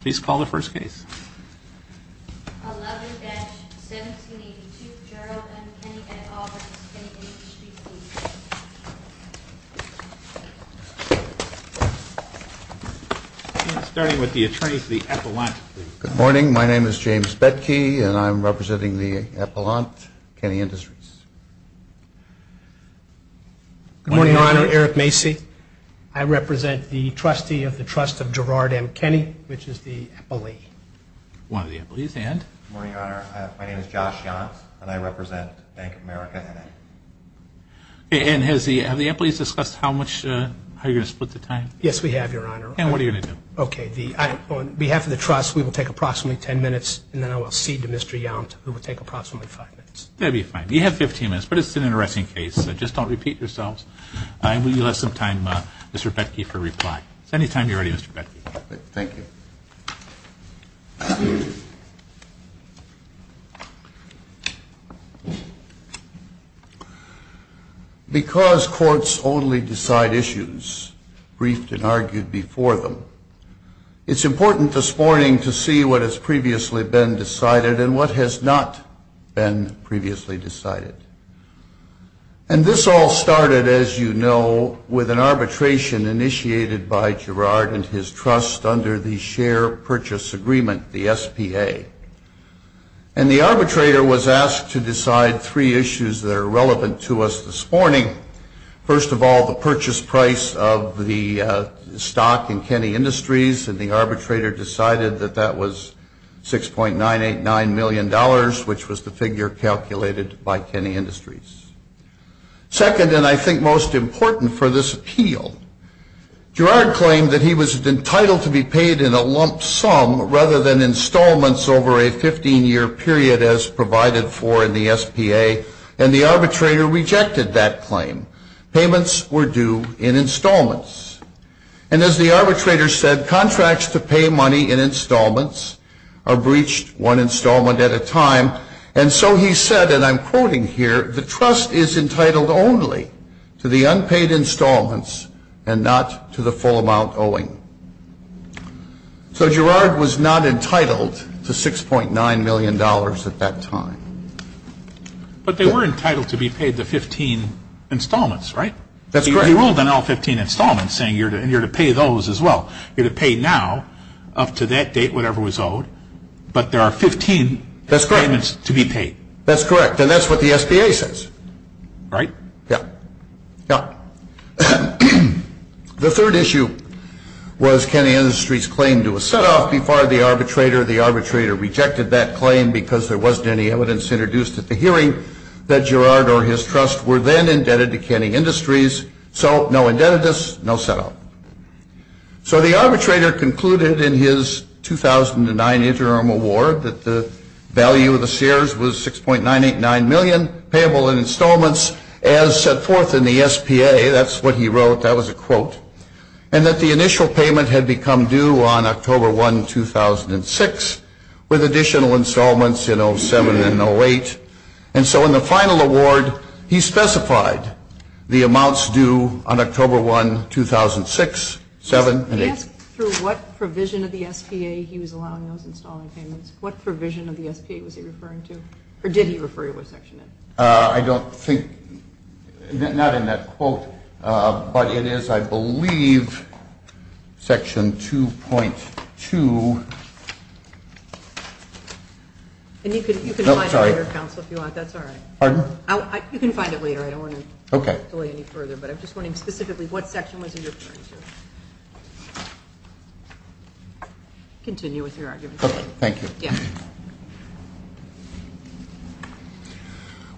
please call the first case starting with the attorneys the epilogue good morning my name is James bett key and I'm representing the epilogue Kenny Industries good morning honor Eric Macy I represent the trustee of the trust of the epilogue one of the employees and my name is Josh and I represent Bank America and has the employees discussed how much higher split the time yes we have your honor and what are you gonna do okay the I on behalf of the trust we will take approximately 10 minutes and then I will see to mr. young who will take approximately five minutes that'd be fine you have 15 minutes but it's an interesting case just don't repeat yourselves I will you have some time mr. bett key for reply it's any time you're ready mr. bett thank you because courts only decide issues briefed and argued before them it's important this morning to see what has previously been decided and what has not been previously decided and this all started as you know with an arbitration initiated by Gerard and his trust under the share purchase agreement the SPA and the arbitrator was asked to decide three issues that are relevant to us this morning first of all the purchase price of the stock in Kenny Industries and the was the figure calculated by Kenny Industries second and I think most important for this appeal Gerard claimed that he was entitled to be paid in a lump sum rather than installments over a 15-year period as provided for in the SPA and the arbitrator rejected that claim payments were due in installments and as the arbitrator said contracts to pay money in installments are breached one installment at a time and so he said and I'm quoting here the trust is entitled only to the unpaid installments and not to the full amount owing so Gerard was not entitled to 6.9 million dollars at that time but they were entitled to be paid the 15 installments right that's where he ruled on all 15 installments saying you're to and you're to pay those as well you're to pay now up to that date whatever was owed but there are 15 that's great it's to be paid that's correct and that's what the SPA says right yeah yeah the third issue was Kenny Industries claim to a set off before the arbitrator the arbitrator rejected that claim because there wasn't any evidence introduced at the hearing that Gerard or his trust were then indebted to Kenny Industries so no debt of this no setup so the arbitrator concluded in his 2009 interim award that the value of the Sears was six point nine eight nine million payable in installments as set forth in the SPA that's what he wrote that was a quote and that the initial payment had become due on October 1 2006 with additional installments in 07 and 08 and so in the final award he specified the amounts due on October 1 2006 seven and eight through what provision of the SPA he was allowing those installing payments what provision of the SPA was he referring to or did he refer you what section I don't think not in that quote but it is I believe section 2.2 and you can you can sorry counsel if you want that's all you can find it later I don't want to okay delay any further but I'm just wondering specifically what section was in your turn to continue with your argument okay thank you yeah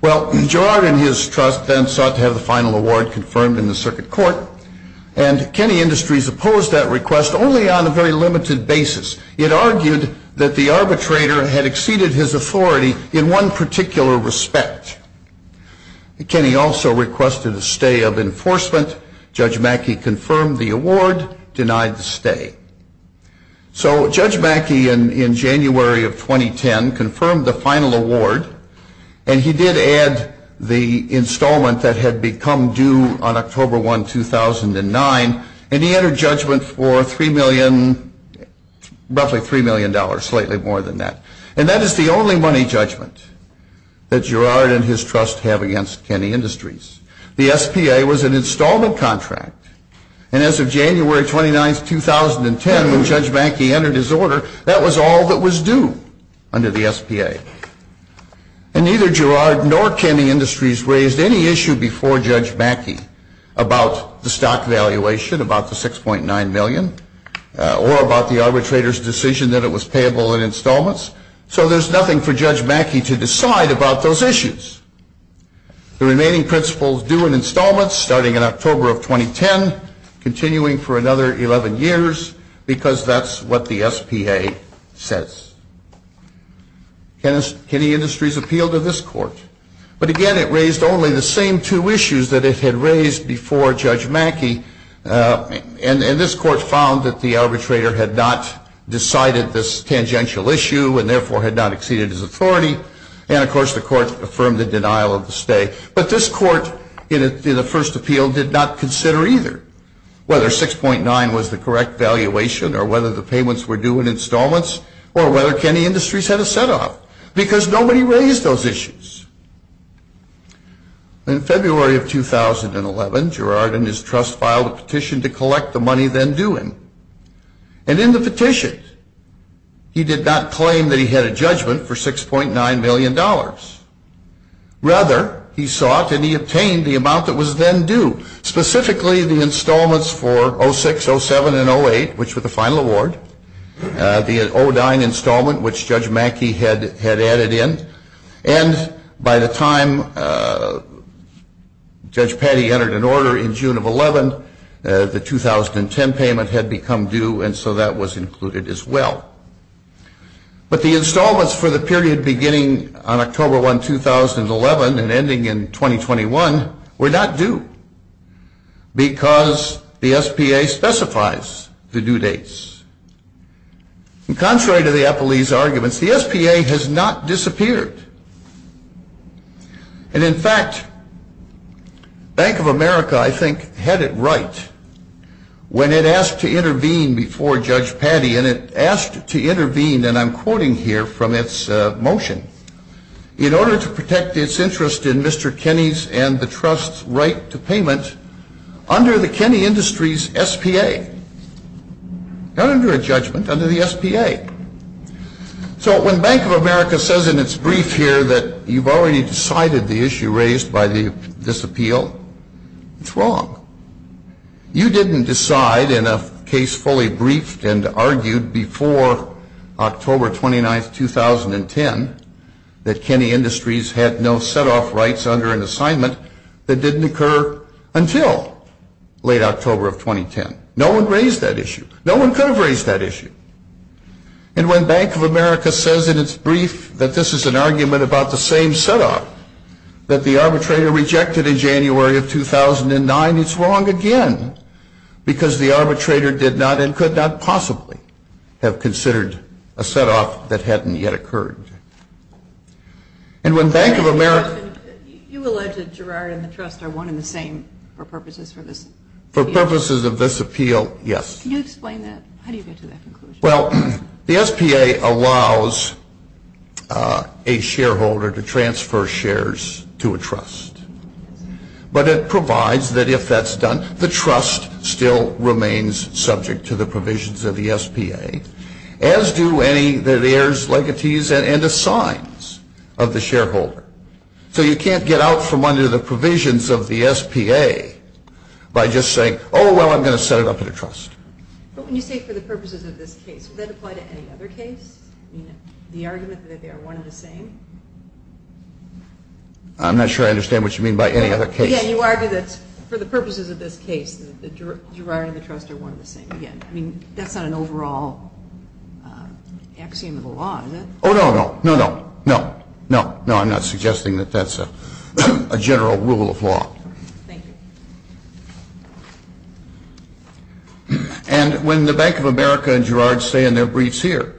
well Gerard and his trust then sought to have the final award confirmed in the circuit court and Kenny Industries opposed that request only on a very limited basis it argued that the arbitrator had exceeded his authority in one particular respect Kenny also requested a stay of enforcement judge Mackey confirmed the award denied the stay so judge Mackey in January of 2010 confirmed the final award and he did add the installment that had become due on October 1 2009 and he entered judgment for three million roughly three million dollars slightly more than that and that is the only money judgment that Gerard and his trust have against Kenny Industries the SPA was an installment contract and as of January 29th 2010 when judge Mackey entered his order that was all that was due under the SPA and neither Gerard nor Kenny Industries raised any issue before judge Mackey about the stock valuation about the six point nine million or about the arbitrators decision that it was payable in installments so there's nothing for judge Mackey to decide about those issues the remaining principles do in installments starting in October of 2010 continuing for another 11 years because that's what the SPA says Kenny Industries appealed to this court but again it raised only the same two issues that it had raised before judge Mackey and and this court found that the arbitrator had not decided this tangential issue and therefore had not exceeded his authority and of course the court affirmed the denial of the stay but this court in the first appeal did not consider either whether six point nine was the correct valuation or whether the payments were due in installments or whether Kenny Industries had a set off because nobody raised those issues in February of 2011 Gerard and his trust filed a petition to him and in the petition he did not claim that he had a judgment for six point nine million dollars rather he sought and he obtained the amount that was then due specifically the installments for 06, 07 and 08 which were the final award the 09 installment which judge Mackey had had added in and by the time judge Petty entered an order in June of 11 the 2010 payment had become due and so that was included as well but the installments for the period beginning on October 1, 2011 and ending in 2021 were not due because the SPA specifies the due dates and contrary to the appellees arguments the SPA has not disappeared and in fact Bank of America I think had it right when it asked to intervene before judge Petty and it asked to intervene and I'm quoting here from its motion in order to protect its interest in Mr. Kenny's and the trust's right to payment under the Kenny Industries SPA not under a judgment under the SPA so when Bank of America says in its brief here that you've already decided the issue raised by the this appeal it's wrong you didn't decide in a case fully briefed and argued before October 29th 2010 that Kenny Industries had no set off rights under an assignment that didn't occur until late and when Bank of America says in its brief that this is an argument about the same set up that the arbitrator rejected in January of 2009 it's wrong again because the arbitrator did not and could not possibly have considered a set off that hadn't yet occurred and when Bank of America you alleged Gerard and the trust are one in the same for purposes for this for purposes of this appeal yes well the SPA allows a shareholder to transfer shares to a trust but it provides that if that's done the trust still remains subject to the provisions of the SPA as do any that airs legatees and the signs of the shareholder so you can't get out from under the provisions of the SPA by just saying oh well I'm set up in a trust but when you say for the purposes of this case that apply to any other case the argument that they are one of the same I'm not sure I understand what you mean by any other case you argue that for the purposes of this case the Gerard and the trust are one of the same again I mean that's not an overall axiom of the law oh no no no no no no I'm not suggesting that that's a general rule of law and when the Bank of America and Gerard say in their briefs here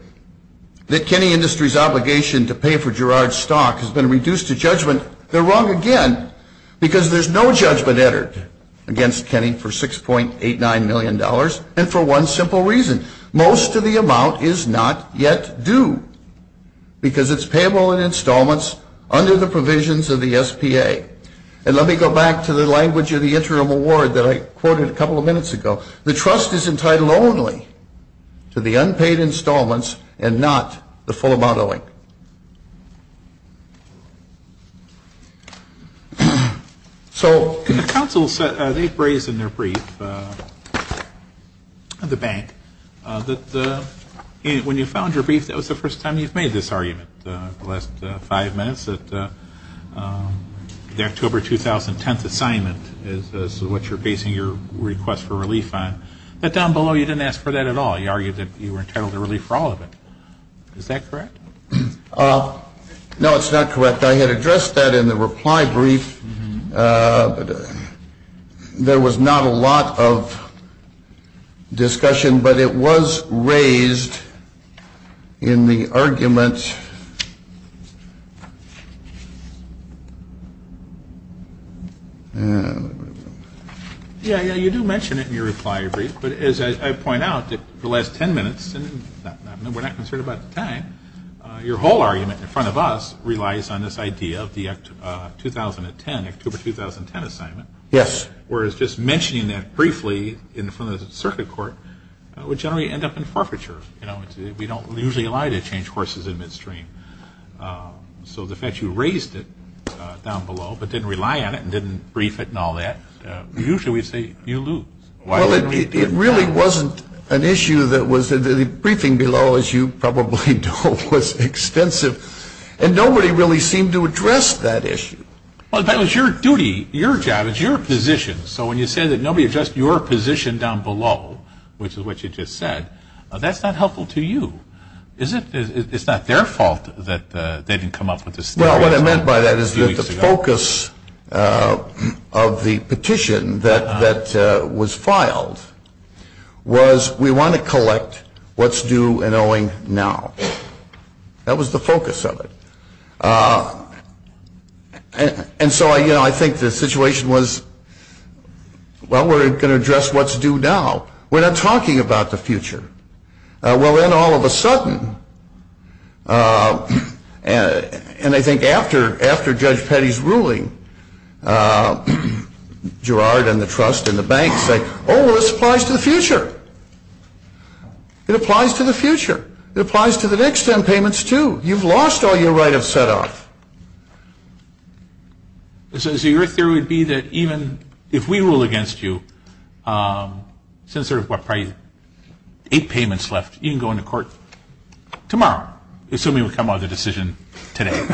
that Kenny Industries obligation to pay for Gerard stock has been reduced to judgment they're wrong again because there's no judgment entered against Kenny for six point eight nine million dollars and for one simple reason most of the amount is not yet due because it's payable in installments under the provisions of the SPA and let me go back to the language of the interim award that I quoted a the trust is entitled only to the unpaid installments and not the full amount owing so the council said they've raised in their brief the bank that when you found your brief that was the first time you've made this argument the last five minutes that the October 2010th assignment is what you're basing your request for relief on but down below you didn't ask for that at all you argued that you were entitled to relief for all of it is that correct no it's not correct I had addressed that in the reply brief but there was not a lot of yeah yeah you do mention it in your reply brief but as I point out that the last ten minutes and we're not concerned about the time your whole argument in front of us relies on this idea of the act 2010 October 2010 assignment yes whereas just mentioning that briefly in front of the circuit court would generally end up in forfeiture you know we don't usually lie to change horses in midstream so the fact you raised it down below but didn't rely on it and brief it and all that usually we say you lose well it really wasn't an issue that was the briefing below as you probably told was expensive and nobody really seemed to address that issue well that was your duty your job is your position so when you say that nobody just your position down below which is what you just said that's not helpful to you is it it's not their fault that they didn't come up with this well what I meant by that is that the focus of the petition that that was filed was we want to collect what's due and owing now that was the focus of it and so I you know I think the situation was well we're gonna address what's due now we're not talking about the future well then all of a sudden and I think after after Judge Petty's ruling Gerard and the trust in the bank say oh this applies to the future it applies to the future it applies to the next ten payments too you've lost all your right of set off this is your theory would be that even if we rule against you since there were eight payments left you can go into court tomorrow assuming we come out of the decision today today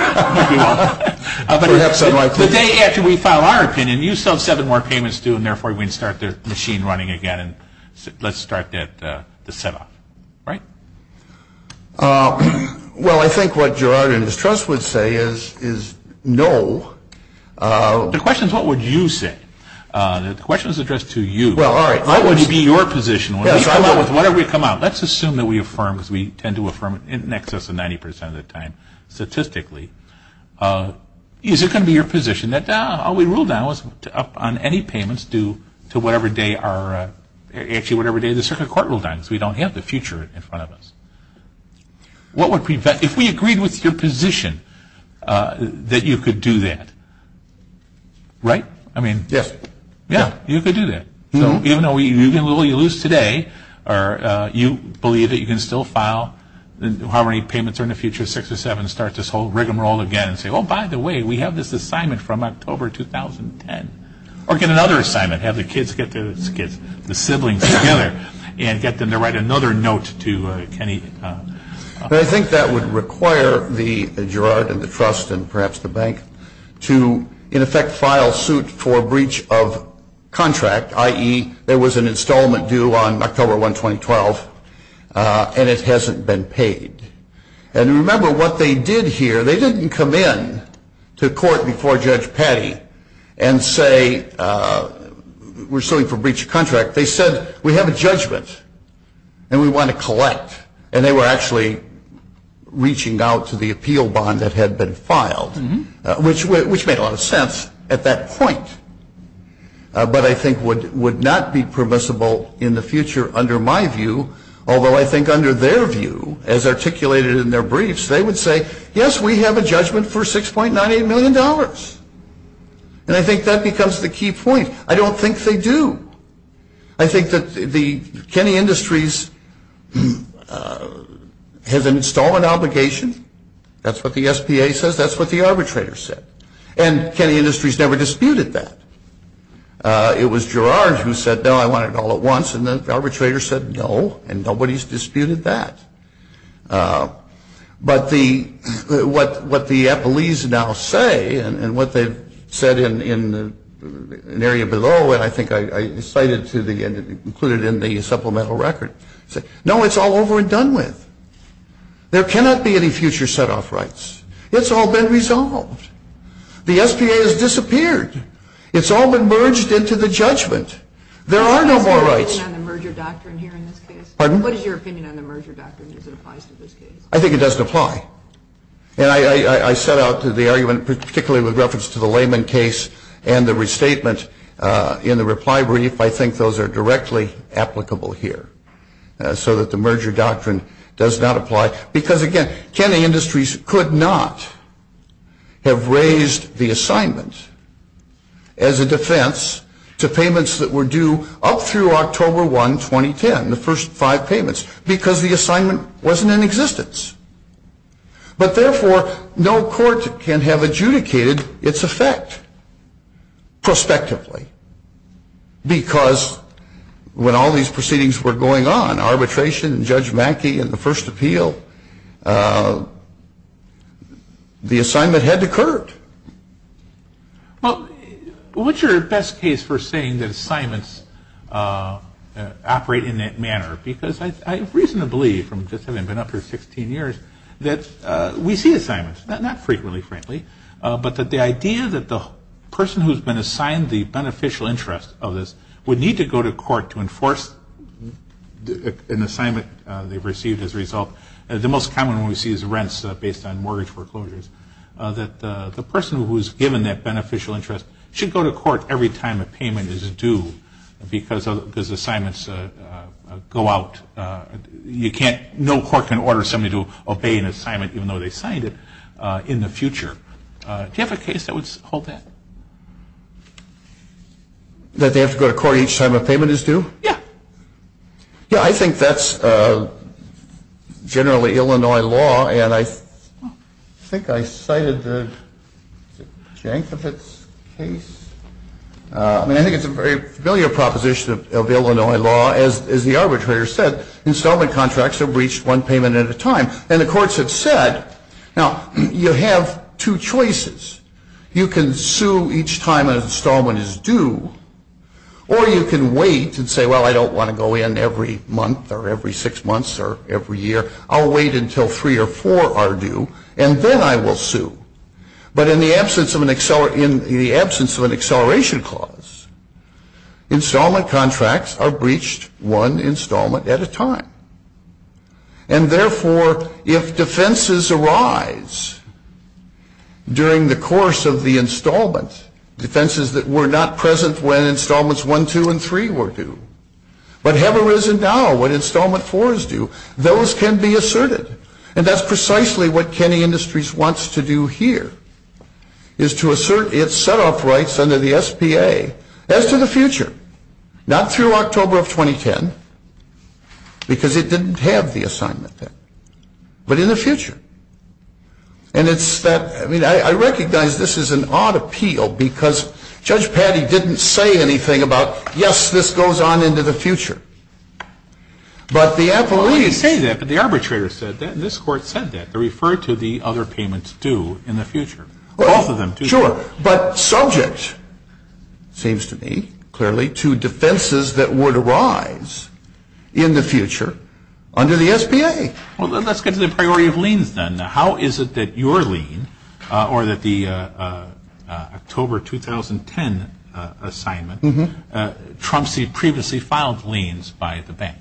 after we file our opinion you sell seven more payments do and therefore we start the machine running again and let's start that the setup right well I think what Gerard and his trust would say is is no the questions what would you say the questions addressed to you well all right I want to be your position with whatever we come out let's assume that we affirm as we tend to affirm it in excess of 90% of the time statistically is it gonna be your position that now all we rule now is up on any payments due to whatever day are actually whatever day the circuit court will die because we don't have the future in front of us what would prevent if we agreed with your position that you could do that right I mean yes yeah you could do that you know we really lose today or you believe that you can still file how many payments are in the future six or seven start this whole rigmarole again and say oh by the way we have this assignment from October 2010 or get another assignment have the kids get to get the siblings together and get them to write another note to Kenny I think that would require the Gerard and the trust and perhaps the bank to in effect file suit for breach of contract ie there was an installment due on October 1 2012 and it hasn't been paid and remember what they did here they didn't come in to court before Judge Patty and say we're suing for breach of contract they said we have a judgment and we want to collect and they were actually reaching out to the appeal bond that had been filed which which made a lot of sense at that point but I think would would not be permissible in the future under my view although I think under their view as articulated in their briefs they would say yes we have a judgment for six point ninety million dollars and I think that becomes the key point I don't think they do I think that the Kenny Industries has an installment obligation that's what the SPA says that's what the arbitrator said and Kenny Industries never disputed that it was Gerard who said no I want it all at once and the arbitrator said no and nobody's disputed that but the what what the Apple ease now say and what they've said in in an area below and I think I cited to the end included in the supplemental record say no it's all over and done with there cannot be any future set off rights it's all been resolved the SPA has disappeared it's all been merged into the judgment there are no more rights I think it doesn't apply and I I set out to the argument particularly with reference to the layman case and the restatement in the reply brief I think those are directly applicable here so that the merger doctrine does not apply because again Kenny Industries could not have raised the assignment as a defense to payments that were due up through October 1 2010 the first five payments because the assignment wasn't in existence but therefore no court can have adjudicated its effect prospectively because when all these the assignment had occurred but what's your best case for saying that assignments operate in that manner because I reasonably from just having been up for 16 years that we see assignments not frequently frankly but that the idea that the person who's been assigned the beneficial interest of this would need to go to court to enforce an assignment they've received as a result the most common we see is rents based on mortgage foreclosures that the person who's given that beneficial interest should go to court every time a payment is due because of his assignments go out you can't no court can order somebody to obey an assignment even though they signed it in the future do you have a case that would hold that that they have to go to court each time payment is due yeah yeah I think that's a generally Illinois law and I think I cited the jank of its case I mean I think it's a very familiar proposition of Illinois law as the arbitrator said installment contracts are breached one payment at a time and the courts have said now you have two choices you can each time installment is due or you can wait and say well I don't want to go in every month or every six months or every year I'll wait until three or four are due and then I will sue but in the absence of an accelerator in the absence of an acceleration clause installment contracts are breached one installment at a time and therefore if defenses arise during the course of the installment defenses that were not present when installments one two and three were due but have arisen now when installment four is due those can be asserted and that's precisely what Kenney Industries wants to do here is to assert its set-off rights under the SPA as to the future not through October of 2010 because it didn't have the assignment then but in the future and it's that I mean I recognize this is an odd appeal because Judge Patty didn't say anything about yes this goes on into the future but the appellees say that but the arbitrator said that this court said that they refer to the other payments due in the future both of them sure but subject seems to me clearly to defenses that were to rise in the future under the SPA well let's get to the priority of liens then how is it that your lien or that the October 2010 assignment Trump see previously filed liens by the bank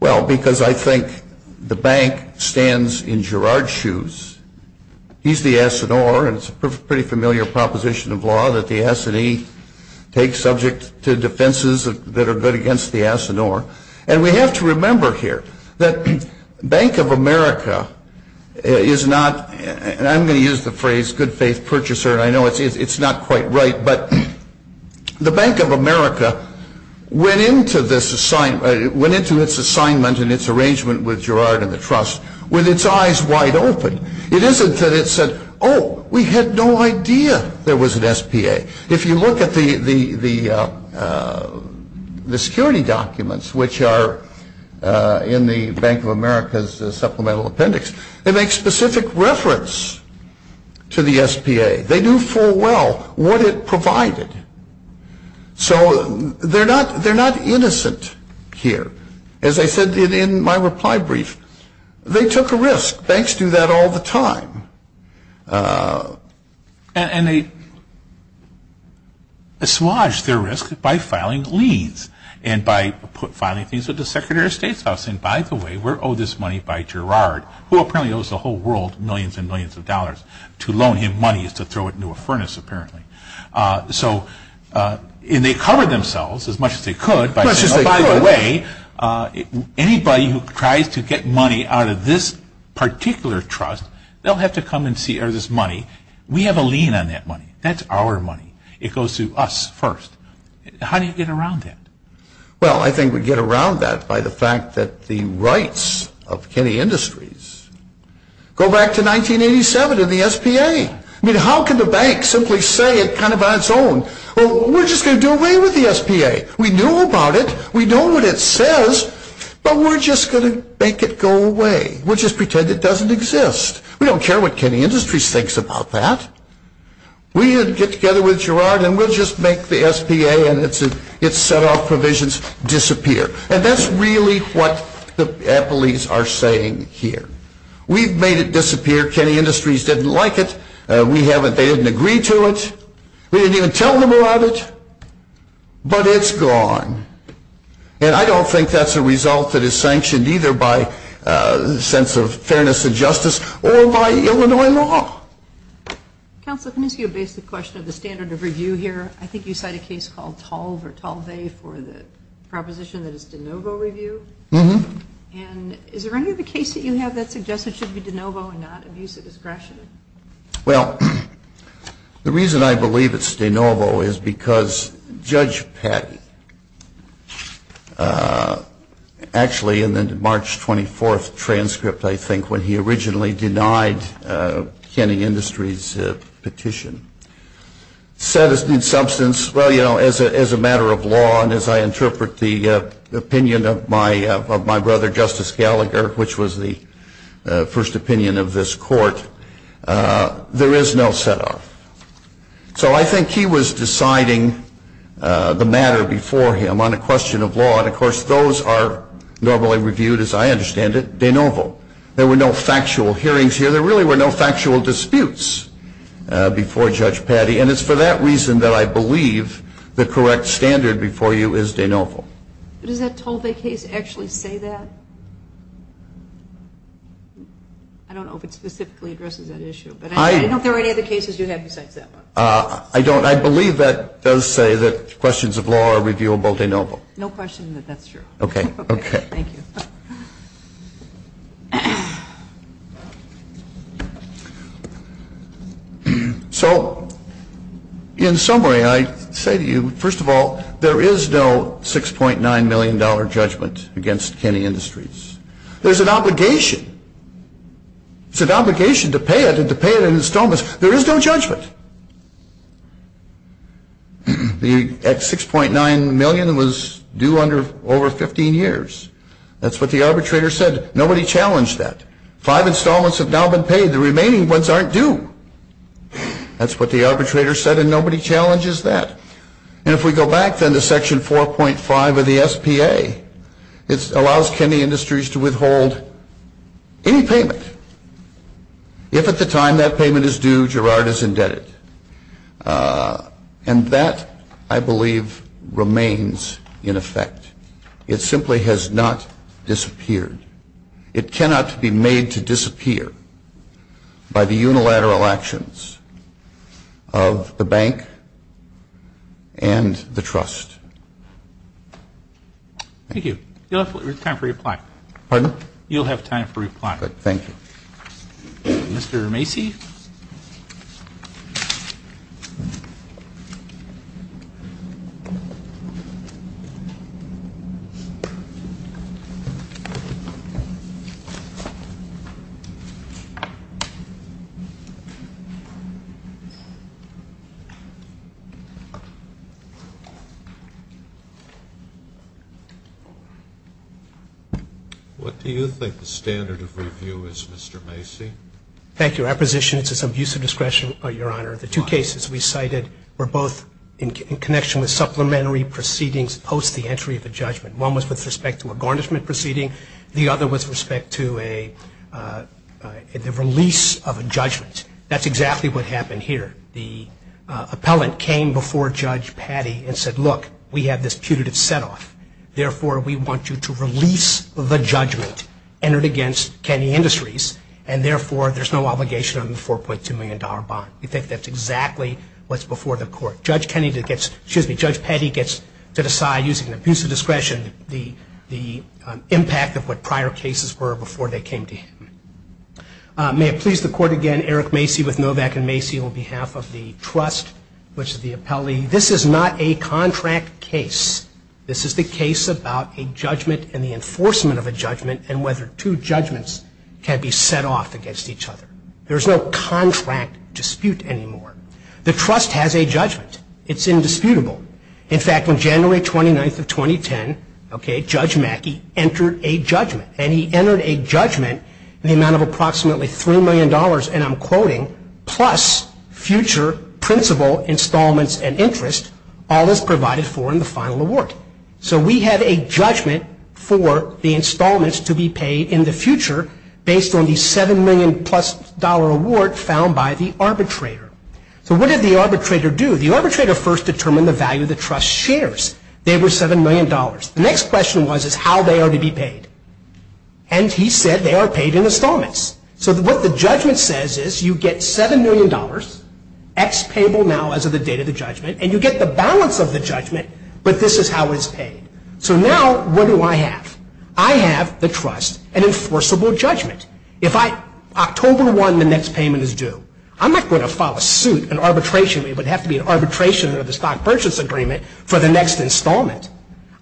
well because I think the bank stands in Gerard shoes he's the S&R and it's a pretty familiar proposition of law that the S&E take subject to defenses that are good and we have to remember here that Bank of America is not and I'm going to use the phrase good faith purchaser I know it's not quite right but the Bank of America went into this assignment went into its assignment and its arrangement with Gerard and the trust with its eyes wide open it isn't that it said oh we had no idea there was an SPA if you look at the the the security documents which are in the Bank of America's supplemental appendix they make specific reference to the SPA they do for well what it provided so they're not they're not innocent here as I said in my reply brief they took a risk banks do that all the time and they assuage their risk by filing liens and by put filing things with the Secretary of State's house and by the way we're owed this money by Gerard who apparently owes the whole world millions and millions of dollars to loan him money is to throw it into a furnace apparently so in they cover themselves as much as they could by the way anybody who tries to get money out of this particular trust they'll have to come and see or this money we have a lien on that money that's our money it goes to us first how do you get around that well I think we get around that by the fact that the rights of Kenny Industries go back to 1987 in the SPA I mean how can the bank simply say it kind of on its own well we're just gonna do away with the SPA we knew about it we were just going to make it go away we'll just pretend it doesn't exist we don't care what Kenny Industries thinks about that we didn't get together with Gerard and we'll just make the SPA and it's a it's set off provisions disappear and that's really what the police are saying here we've made it disappear Kenny Industries didn't like it we haven't they didn't agree to it we didn't even tell them about it but it's gone and I don't think that's a result that is sanctioned either by a sense of fairness and justice or by Illinois law counsel can you see a basic question of the standard of review here I think you cite a case called tall for tall they for the proposition that is de novo review mm-hmm and is there any of the case that you have that suggested should be de novo and not abuse of discretion well the reason I believe it's de novo is because judge Pat actually in the March 24th transcript I think when he originally denied Kenny Industries petition said his new substance well you know as a matter of law and as I interpret the opinion of my of my brother justice Gallagher which was the first opinion of this court there is no so I think he was deciding the matter before him on a question of law and of course those are normally reviewed as I understand it de novo there were no factual hearings here there really were no factual disputes before judge Patty and it's for that reason that I believe the correct standard before you is de novo does that told a case actually say that I don't know if it specifically I don't I believe that does say that questions of law are reviewable de novo no question that that's true okay okay so in summary I say to you first of all there is no six point nine million dollar judgment against Kenny Industries there's an obligation it's an obligation to pay it and to pay it in installments there is no judgment the x6.9 million that was due under over 15 years that's what the arbitrator said nobody challenged that five installments have now been paid the remaining ones aren't due that's what the arbitrator said and nobody challenges that and if we go back then to section 4.5 of the SPA it allows Kenny Industries to if at the time that payment is due Gerard is indebted and that I believe remains in effect it simply has not disappeared it cannot be made to disappear by the unilateral actions of the bank and the trust thank you you mr. Macy what do you think the standard of review is mr. Macy thank you our position it's as some use of discretion but your honor the two cases we cited were both in connection with supplementary proceedings post the entry of the judgment one was with respect to a garnishment proceeding the other was respect to a release of a judgment that's exactly what happened here the appellant came before judge patty and said look we have this putative setoff therefore we want you to release the judgment entered against Kenny Industries and therefore there's no obligation on the 4.2 million dollar bond you think that's exactly what's before the court judge Kennedy gets judge petty gets to decide using the use of discretion the the impact of what prior cases were before they came to me please the court again Eric Macy with Novak and Macy on behalf of the trust which the appellee this is not a contract case this is the case about a judgment and the enforcement of a judgment and whether two judgments can be set off against each other there's no contract dispute anymore the trust has a judgment it's in dispute in fact when January 29th of 2010 okay judge Mackey entered a judgment and he entered a judgment in the amount of approximately three million dollars and I'm quoting plus future principal installments and interest all this provided for in the final award so we have a judgment for the installments to be paid in the future based on the seven million plus dollar award found by the arbitrator so what did the arbitrator do the arbitrator first determined the value the trust shares they were seven million dollars the next question was is how they are to be paid and he said they are paid in installments so that what the judgment says is you get seven million dollars X payable now as of the date of the judgment and you get the balance of the judgment but this is how it's paid so now what do I have I have the trust an enforceable judgment if I October 1 the next payment is due I'm not going to file a suit an arbitration we would have to be an arbitration of the stock purchase agreement for the next installment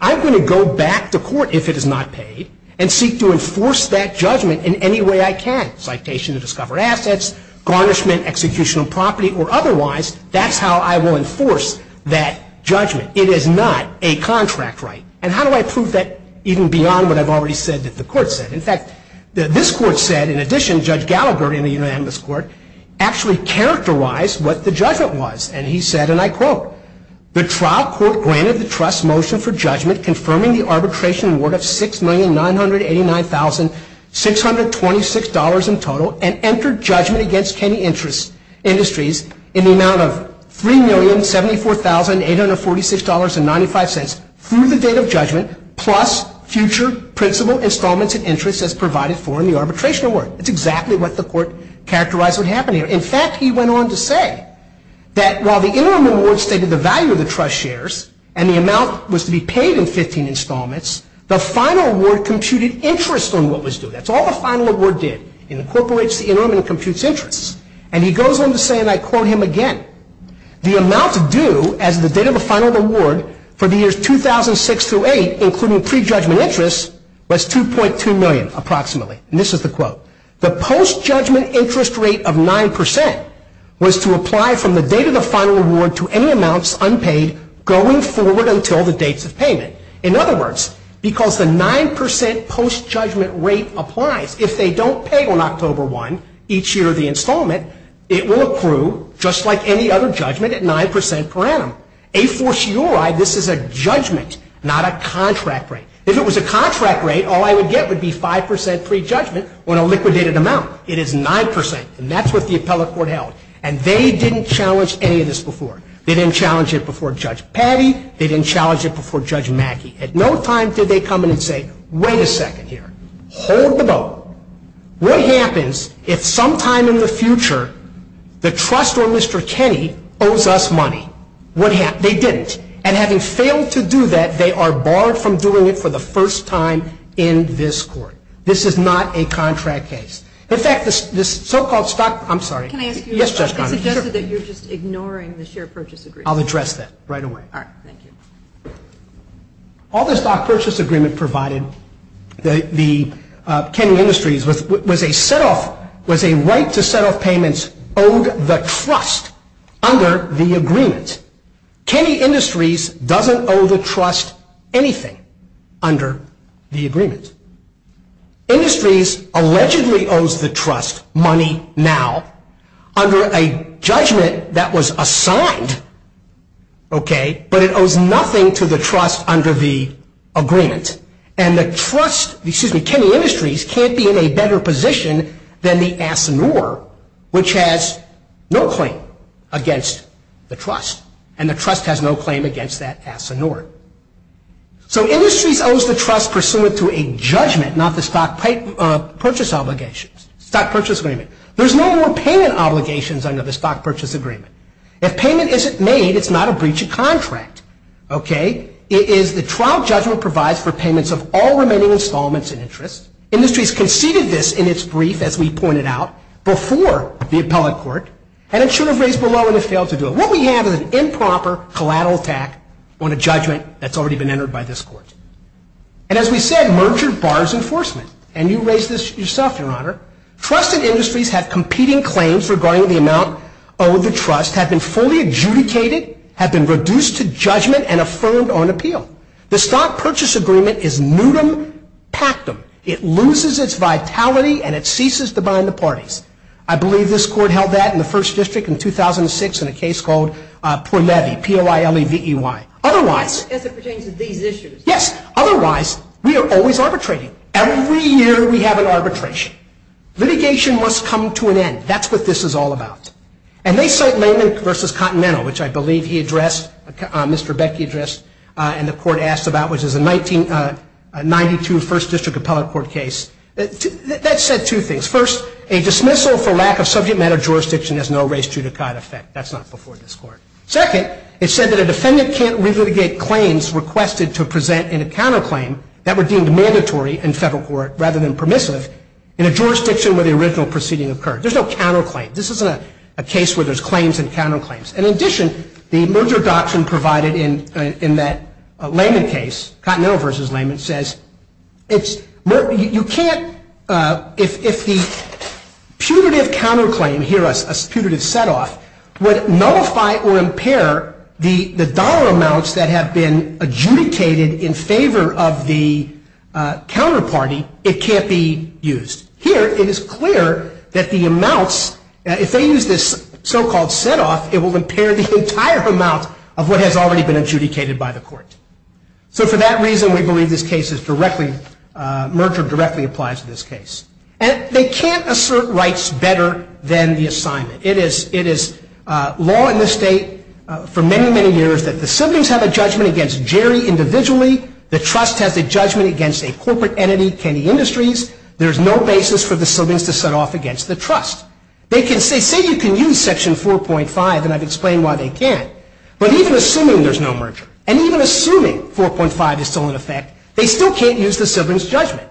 I'm going to go back to court if it is not paid and seek to enforce that judgment in any way I can citation to discover assets garnishment execution of property or otherwise that's how I will enforce that judgment it is not a contract right and how do I prove that even beyond what I've already said that the court said in fact this court said in addition judge Gallagher in the unanimous court actually characterized what the judgment was and he said and I quote the trial court granted the trust motion for judgment confirming the arbitration award of six million nine hundred eighty nine thousand six hundred twenty six dollars in total and entered judgment against Kenny interest industries in the amount of three million seventy four thousand eight hundred forty six dollars and ninety five cents through the date of judgment plus future principal installments and interest as provided for in the arbitration award it's exactly what the court characterized what happened here in fact he went on to say that while the interim award stated the value of the trust shares and the amount was to be paid in 15 installments the final word computed interest on what was due that's all the final award did incorporates the interim and computes interests and he goes on to say and I quote him again the amount to do as the date of the final award for the years two thousand six to eight including pre-judgment interest was two point two million approximately this is the quote the post judgment interest rate of nine percent was to apply from the date of the final award to any amounts unpaid going forward until the dates of payment in other words because the nine percent post judgment rate applies if they don't pay on October one each year of the installment it will accrue just like any other judgment at nine percent per annum a for sure I this is a judgment not a contract rate if it was a contract rate all I would get would be five percent pre-judgment when a liquidated amount it is nine percent and that's what the appellate court held and they didn't challenge any of this before they didn't challenge it before judge patty they didn't challenge it before judge Mackey at no time did they come in and say wait a second here hold the boat what happens if sometime in the future the trust or mr. Kenny owes us money what happened they didn't and having failed to do that they are barred from doing it for the first time in this court this is not a contract case in fact this this so-called stock I'm sorry I'll address that right away all this stock purchase agreement provided the Kenny Industries with was a set off was a right to set off payments owed the trust under the anything under the agreement industries allegedly owes the trust money now under a judgment that was assigned okay but it owes nothing to the trust under the agreement and the trust the excuse me Kenny Industries can't be in a better position than the ass and or which has no claim against the trust and the trust has no claim against that ass and or so industries owes the trust pursuant to a judgment not the stock pipe purchase obligations stock purchase agreement there's no more payment obligations under the stock purchase agreement if payment isn't made it's not a breach of contract okay it is the trial judgment provides for payments of all remaining installments in interest industries conceded this in its brief as we pointed out before the appellate court and it what we have is an improper collateral attack on a judgment that's already been entered by this court and as we said merger bars enforcement and you raise this yourself your honor trusted industries have competing claims regarding the amount owed the trust have been fully adjudicated have been reduced to judgment and affirmed on appeal the stock purchase agreement is nudum pactum it loses its vitality and it ceases to bind the parties I believe this court held that in the first district in 2006 in a case called otherwise yes otherwise we are always arbitrating every year we have an arbitration litigation must come to an end that's what this is all about and they say versus continental which I believe he addressed mr. Becky address and the court asked about which is a 1992 first district appellate court case that said two things first a dismissal for lack of subject matter jurisdiction has no race to the kind of fact that's not before this court second it said that a defendant can't really get claims requested to present in a counterclaim that were deemed mandatory in federal court rather than permissive in a jurisdiction where the original proceeding occurred there's no counterclaim this isn't a case where there's claims and counterclaims and in addition the merger doctrine provided in in that layman case continental versus says it's you can't if the punitive counterclaim here us a punitive setoff would nullify or impair the the dollar amounts that have been adjudicated in favor of the counterparty it can't be used here it is clear that the amounts if they use this so-called setoff it will impair the entire amount of what has already been adjudicated by the court so for that reason we believe this case is directly merger directly applies to this case and they can't assert rights better than the assignment it is it is law in the state for many many years that the siblings have a judgment against Jerry individually the trust has a judgment against a corporate entity Kenny Industries there's no basis for the siblings to set off against the trust they can say say you can use section 4.5 and I've explained why they can't but even assuming there's no merger and even assuming 4.5 is still in effect they still can't use the siblings judgment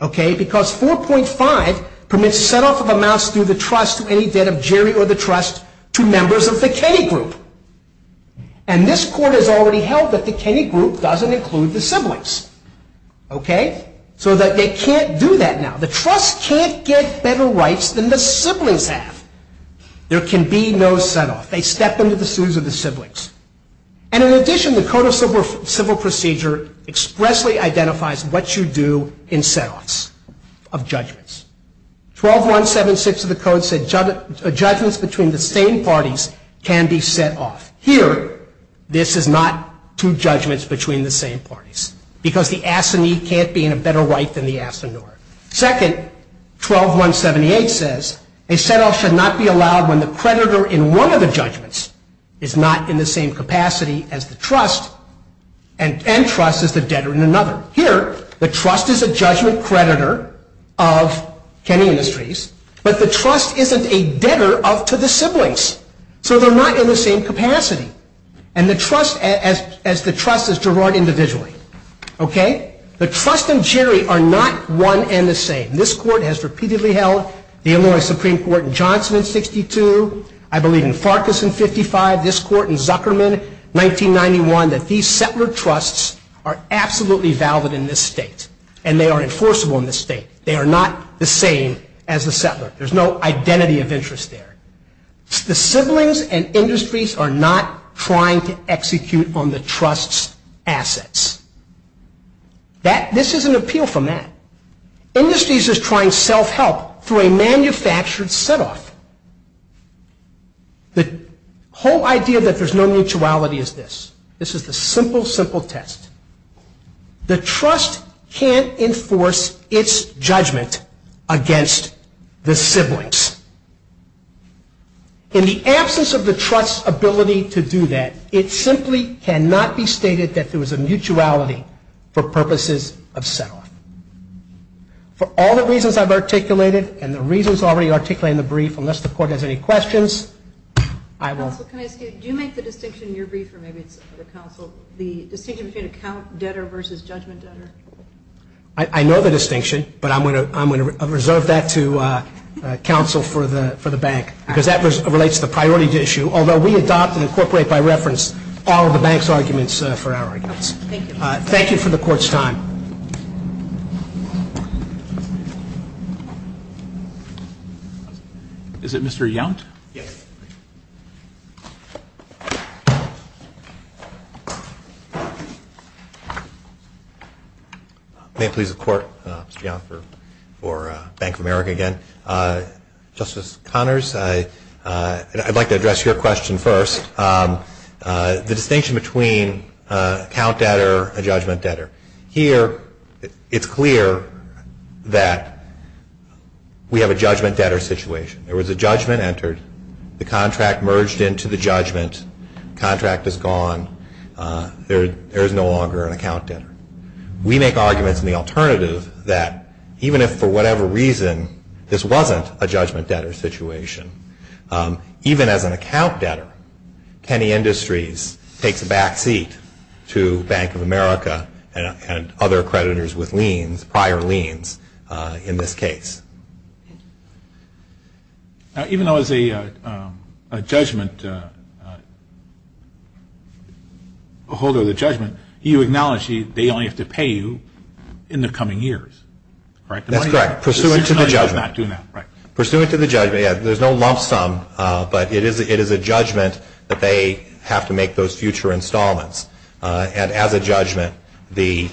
okay because 4.5 permits set off of amounts through the trust to any debt of Jerry or the trust to members of the Kenny group and this court has already held that the Kenny group doesn't include the siblings okay so that they can't do that now the trust can't get better rights than the be no set off they step into the shoes of the siblings and in addition the code of civil procedure expressly identifies what you do in setoffs of judgments twelve one seven six of the code said judgments between the same parties can be set off here this is not two judgments between the same parties because the ass and he can't be in a better right than the afternoon second 12 178 says a set off should not be allowed when the creditor in one of the judgments is not in the same capacity as the trust and entrust is the debtor in another here the trust is a judgment creditor of Kenny Industries but the trust isn't a debtor of to the siblings so they're not in the same capacity and the trust as as the trust is Gerard individually okay the trust and Jerry are not one and the same this court has repeatedly held the Illinois Supreme Court Johnson in 62 I believe in Farkas in 55 this court in Zuckerman 1991 that these settler trusts are absolutely valid in this state and they are enforceable in the state they are not the same as the settler there's no identity of interest there the siblings and industries are not trying to execute on the trust's assets that this is an appeal from that industries is trying self-help through a manufactured set off the whole idea that there's no mutuality is this this is the simple simple test the trust can't enforce its judgment against the siblings in the absence of the trust's ability to do that it simply cannot be stated that there was a mutuality for purposes of settle for all the reasons I've articulated and the reasons already articulate in the brief unless the court has any questions I will I know the distinction but I'm going to I'm going to reserve that to counsel for the for the bank because that was relates the priority to issue although we adopt and incorporate by reference all the bank's arguments for our thank you for the court's time is it mr. young may please the court for Bank of America again justice Connors I'd like to address your question first the distinction between count that are judgment that are here it's clear that we have a judgment that are situation there was a judgment entered the contract merged into the judgment contract is gone there is no longer an accountant we make arguments in the alternative that even if for whatever reason this wasn't a judgment that are situation even as an account debtor any industries takes a backseat to Bank of America and other creditors with liens prior liens in this case even though is a judgment hold of the judgment you acknowledge the only have to pay you in there's no lump sum but it is it is a judgment that they have to make those future installments and as a judgment the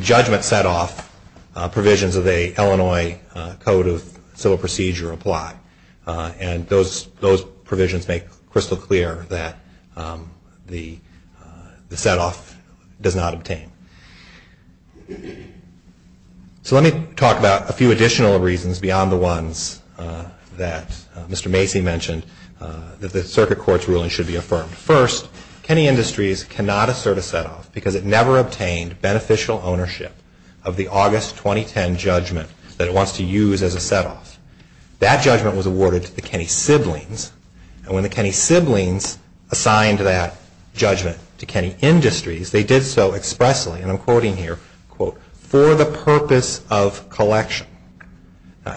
judgment set off provisions of a Illinois Code of Civil Procedure apply and those those provisions make crystal clear that the set off does not obtain so let me talk about a few additional reasons beyond the ones that mr. Macy mentioned that the circuit court's ruling should be affirmed first any industries cannot assert a set off because it never obtained beneficial ownership of the August 2010 judgment that wants to use as a set off that judgment was awarded to the Kenny siblings and when the Kenny siblings assigned to that judgment to Kenny industries they did so expressly and I'm quoting here quote for the purpose of collection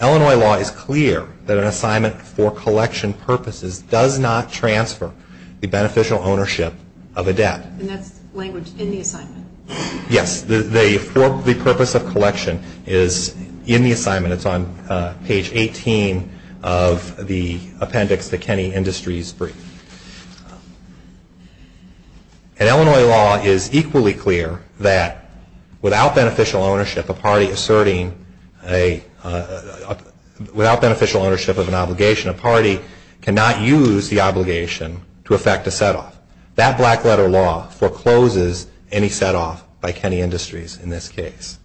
Illinois law is clear that an assignment for collection purposes does not transfer the beneficial ownership of a debt yes they for the purpose of collection is in the assignment it's on page 18 of the appendix the Kenny Industries brief Illinois law is equally clear that without beneficial ownership a party asserting a without beneficial ownership of an obligation a party cannot use the obligation to affect a set off that black letter law forecloses any set off by Kenny Industries in this case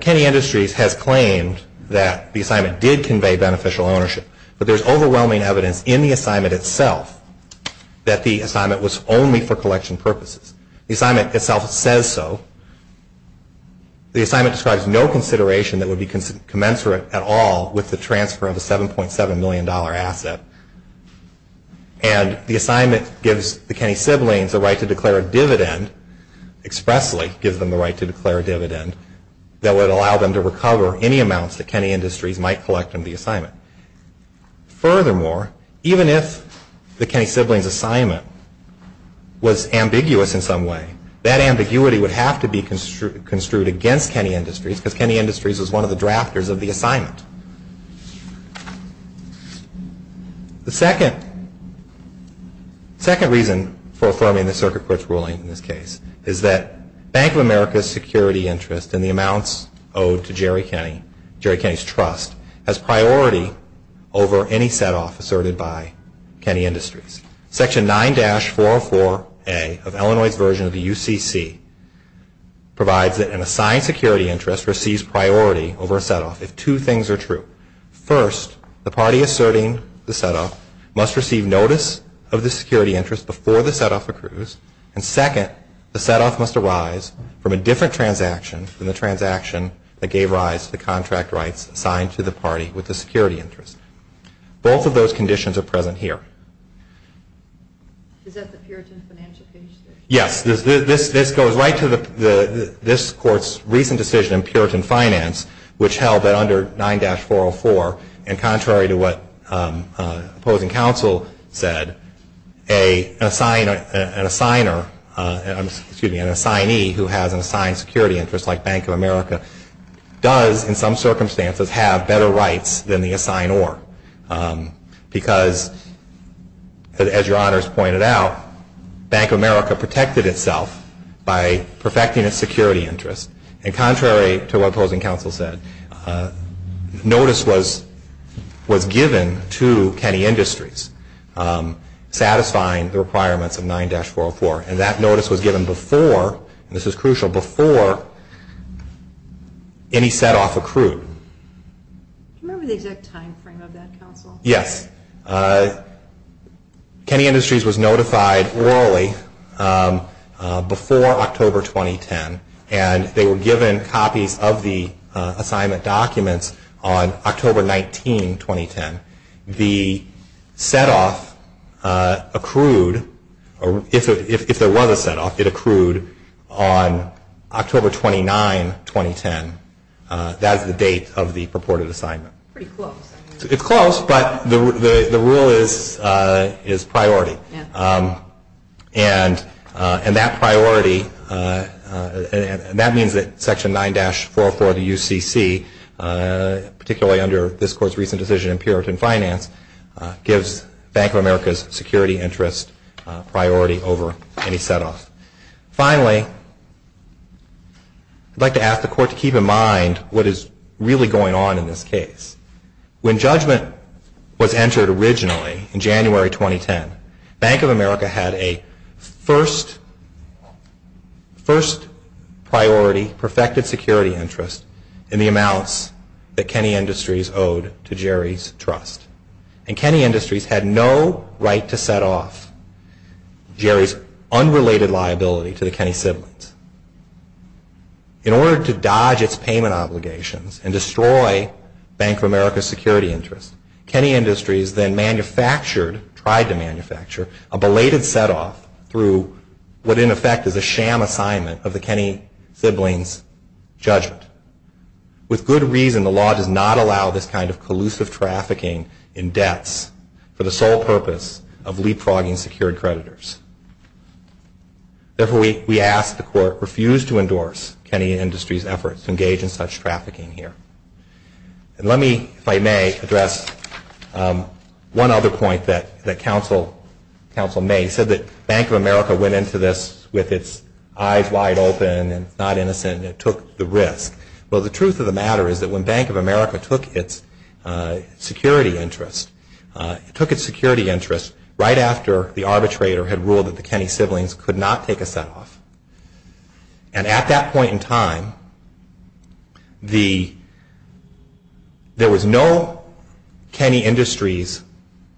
Kenny Industries has claimed that the assignment did convey beneficial ownership but there's overwhelming evidence in the assignment itself that the assignment was only for collection purposes the assignment itself says so the assignment describes no consideration that would be commensurate at all with the transfer of a 7.7 million dollar asset and the assignment gives the Kenny siblings the right to declare a dividend expressly gives them the right to declare a dividend that would allow them to recover any amounts that Kenny Industries might collect in the assignment furthermore even if the Kenny siblings assignment was ambiguous in some way that ambiguity would have to be construed against Kenny Industries because Kenny Industries is one of the drafters of the assignment the second second reason for affirming the circuit courts ruling in this case is that Bank of America's security interest in the case trust as priority over any set off asserted by Kenny Industries section 9 dash 404 a of Illinois version of the UCC provides that an assigned security interest receives priority over set off if two things are true first the party asserting the setup must receive notice of the security interest before the set off accrues and second the set off must arise from a different transaction in transaction that gave rise to the contract rights assigned to the party with the security interest both of those conditions are present here yes this this goes right to the this court's recent decision in puritan finance which held that under 9-404 and contrary to what opposing counsel said a sign an assigner an assignee who has an assigned security interest like Bank of America does in some circumstances have better rights than the assign or because as your honors pointed out Bank of America protected itself by perfecting its security interest and contrary to opposing counsel said notice was was before and that notice was given before this is crucial before any set off accrued yes Kenny Industries was notified early before October 2010 and they were given copies of the assignment documents on October 19 2010 the set off accrued or if there was a set off it accrued on October 29 2010 that's the date of the purported assignment it's close but the rule is is priority and and that priority and that means that section 9-404 the UCC particularly under this court's recent decision in puritan finance gives Bank of America's security interest priority over any set off finally I'd like to ask the court to keep in mind what is really going on in this case when judgment was entered originally in January 2010 Bank of America had a first first priority perfected security interest in the amounts that Kenny Industries owed to Jerry's trust and Kenny Industries had no right to set off Jerry's unrelated liability to the Kenny siblings in order to dodge its payment obligations and destroy Bank of America's security interest Kenny Industries then manufactured tried to manufacture a belated set off through what in effect is a sham assignment of the Kenny siblings judgment with good reason the law does not allow this kind of collusive trafficking in debts for the sole purpose of leapfrogging secured creditors therefore we ask the court refuse to endorse Kenny Industries efforts to engage in such trafficking here and let me if I may address one other point that that counsel counsel said that Bank of America went into this with its eyes wide open and not innocent it took the risk well the truth of the matter is that when Bank of America took its security interest took its security interest right after the arbitrator had ruled that the Kenny siblings could not take a set off and at that point in time the there was no Kenny Industries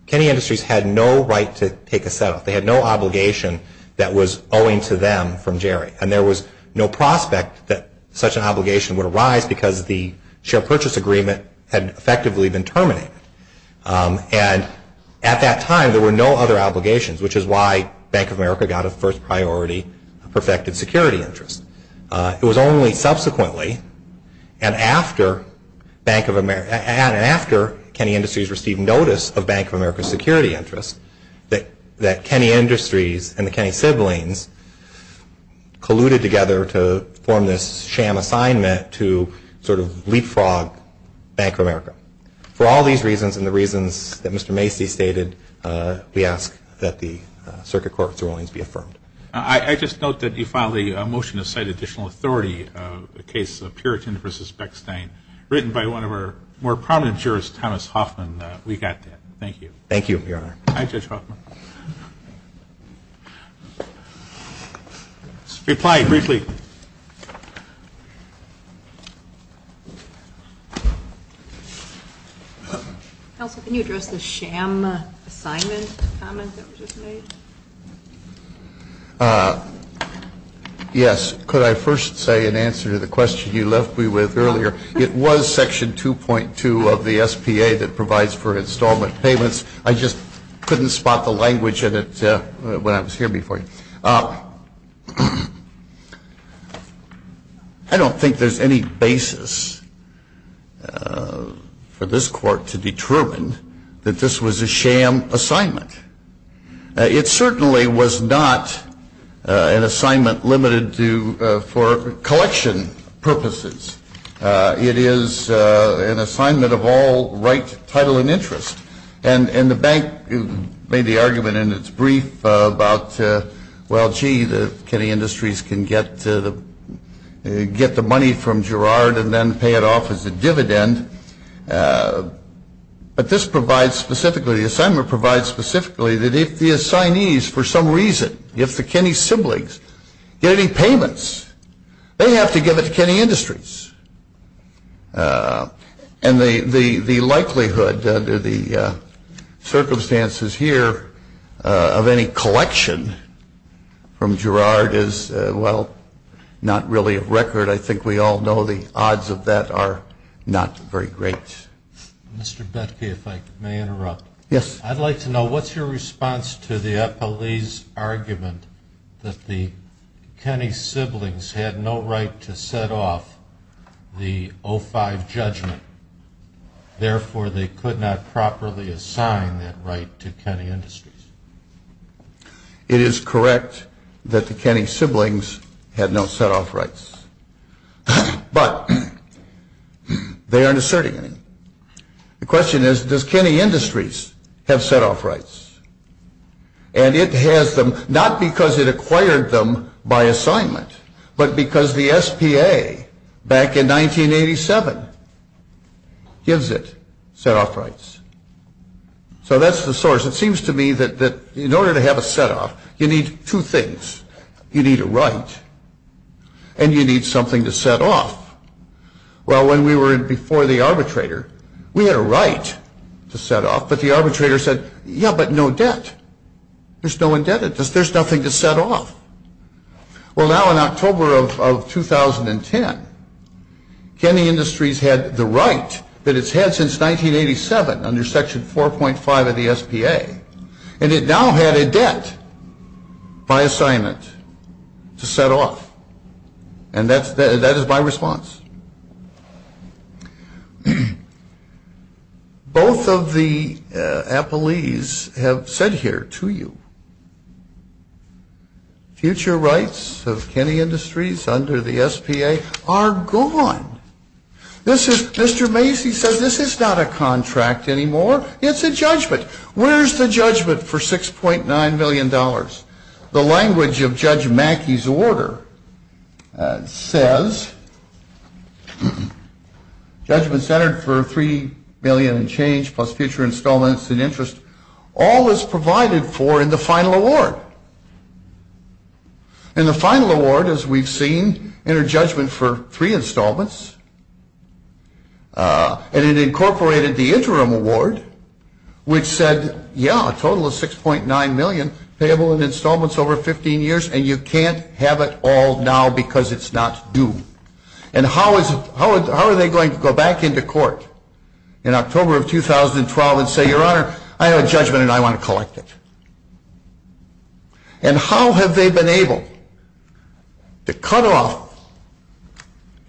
Kenny Industries had no right to take a set off they had no obligation that was owing to them from Jerry and there was no prospect that such an obligation would arise because the share purchase agreement had effectively been terminated and at that time there were no other obligations which is why Bank of America got a first priority perfected security interest it was only subsequently and after Bank of America and after Kenny Industries received notice of Bank of America's security interest that that Kenny Industries and the Kenny siblings colluded together to form this sham assignment to sort of leapfrog Bank of America for all these reasons and the reasons that Mr. Macy stated we ask that the Circuit Court's rulings be affirmed. I just note that you filed a motion to cite additional authority the case of Puritan versus Beckstein written by one of our more prominent jurors Thomas Hoffman we got that thank you. Thank you your honor. Hi Judge Hoffman. Reply briefly. Counsel can you address the sham assignment? Yes could I first say in 2.2 of the SPA that provides for installment payments I just couldn't spot the language in it when I was here before. I don't think there's any basis for this court to determine that this was a sham assignment. It certainly was not an assignment limited to for collection purposes. It is an assignment of all right title and interest and and the bank made the argument in its brief about well gee the Kenny Industries can get to the get the money from Gerard and then pay it off as a dividend but this provides specifically the assignment provide specifically that if the assignees for some reason if the Kenny siblings get any payments they have to give it to Kenny Industries and the the the likelihood under the circumstances here of any collection from Gerard is well not really a record I think we all know the odds of that are not very great. Mr. Betke if I may interrupt. Yes. I'd like to know what's your response to the police argument that the Kenny siblings had no right to set off the 05 judgment therefore they could not properly assign that right to Kenny Industries. It is correct that the Kenny siblings had no set off rights but they aren't asserting any. The question is does Kenny Industries have set off rights and it has them not because it acquired them by assignment but because the SPA back in 1987 gives it set off rights. So that's the source it seems to me that that in order to have a set off you need two things. You need a right and you need something to set off. Well when we were before the arbitrator we had a right to set off but the arbitrator said yeah but no debt. There's no indebtedness. There's nothing to set off. Well now in October of 2010 Kenny Industries had the right that it's had since 1987 under section 4.5 of the SPA and it now had a debt by assignment to set off and that is my response. Both of the appellees have said here to you future rights of Kenny Industries under the SPA are gone. This is Mr. Macy says this is not a contract anymore it's a judgment. Where's the language of Judge Macy's order? It says judgment centered for three million and change plus future installments and interest all is provided for in the final award. And the final award as we've seen entered judgment for three installments and it incorporated the interim award which said yeah a total of 6.9 million payable in installments over 15 years and you can't have it all now because it's not due. And how is how are they going to go back into court in October of 2012 and say your honor I have a judgment and I want to collect it. And how have they been able to cut off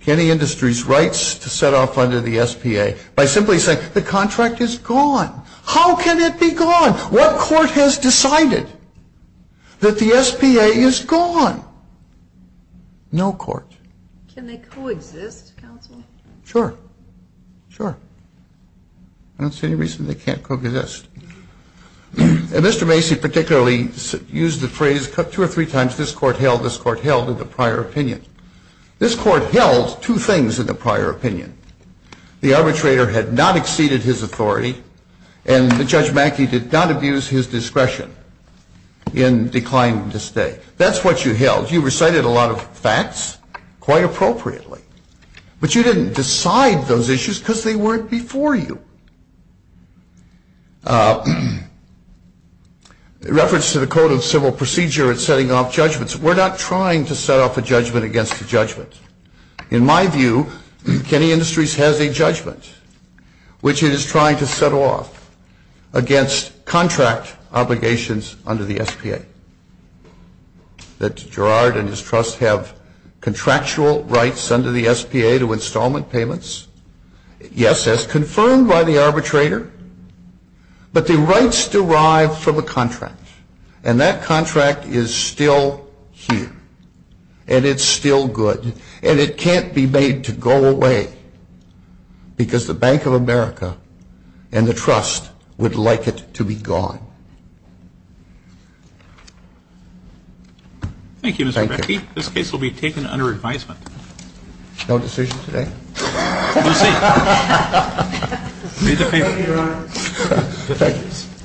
Kenny Industries rights to set off under the SPA has decided that the SPA is gone. No court. Can they co-exist counsel? Sure, sure. I don't see any reason they can't co-exist. Mr. Macy particularly used the phrase cut two or three times this court held this court held in the prior opinion. This court held two things in the prior opinion. The arbitrator had not exceeded his authority and the Judge Macy did not use his discretion in declining to stay. That's what you held. You recited a lot of facts quite appropriately but you didn't decide those issues because they weren't before you. Reference to the Code of Civil Procedure and setting off judgments. We're not trying to set off a judgment against the judgment. In my view Kenny Industries has a judgment which it is trying to set off against contract obligations under the SPA. That Gerard and his trust have contractual rights under the SPA to installment payments. Yes as confirmed by the arbitrator but the rights derived from a contract and that contract is still here and it's still good and it can't be made to go away because the Bank of America and the trust would like it to be gone. Thank you Mr. Macy. This case will be taken under advisement. No decision today? We'll see.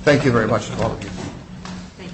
Thank you very much.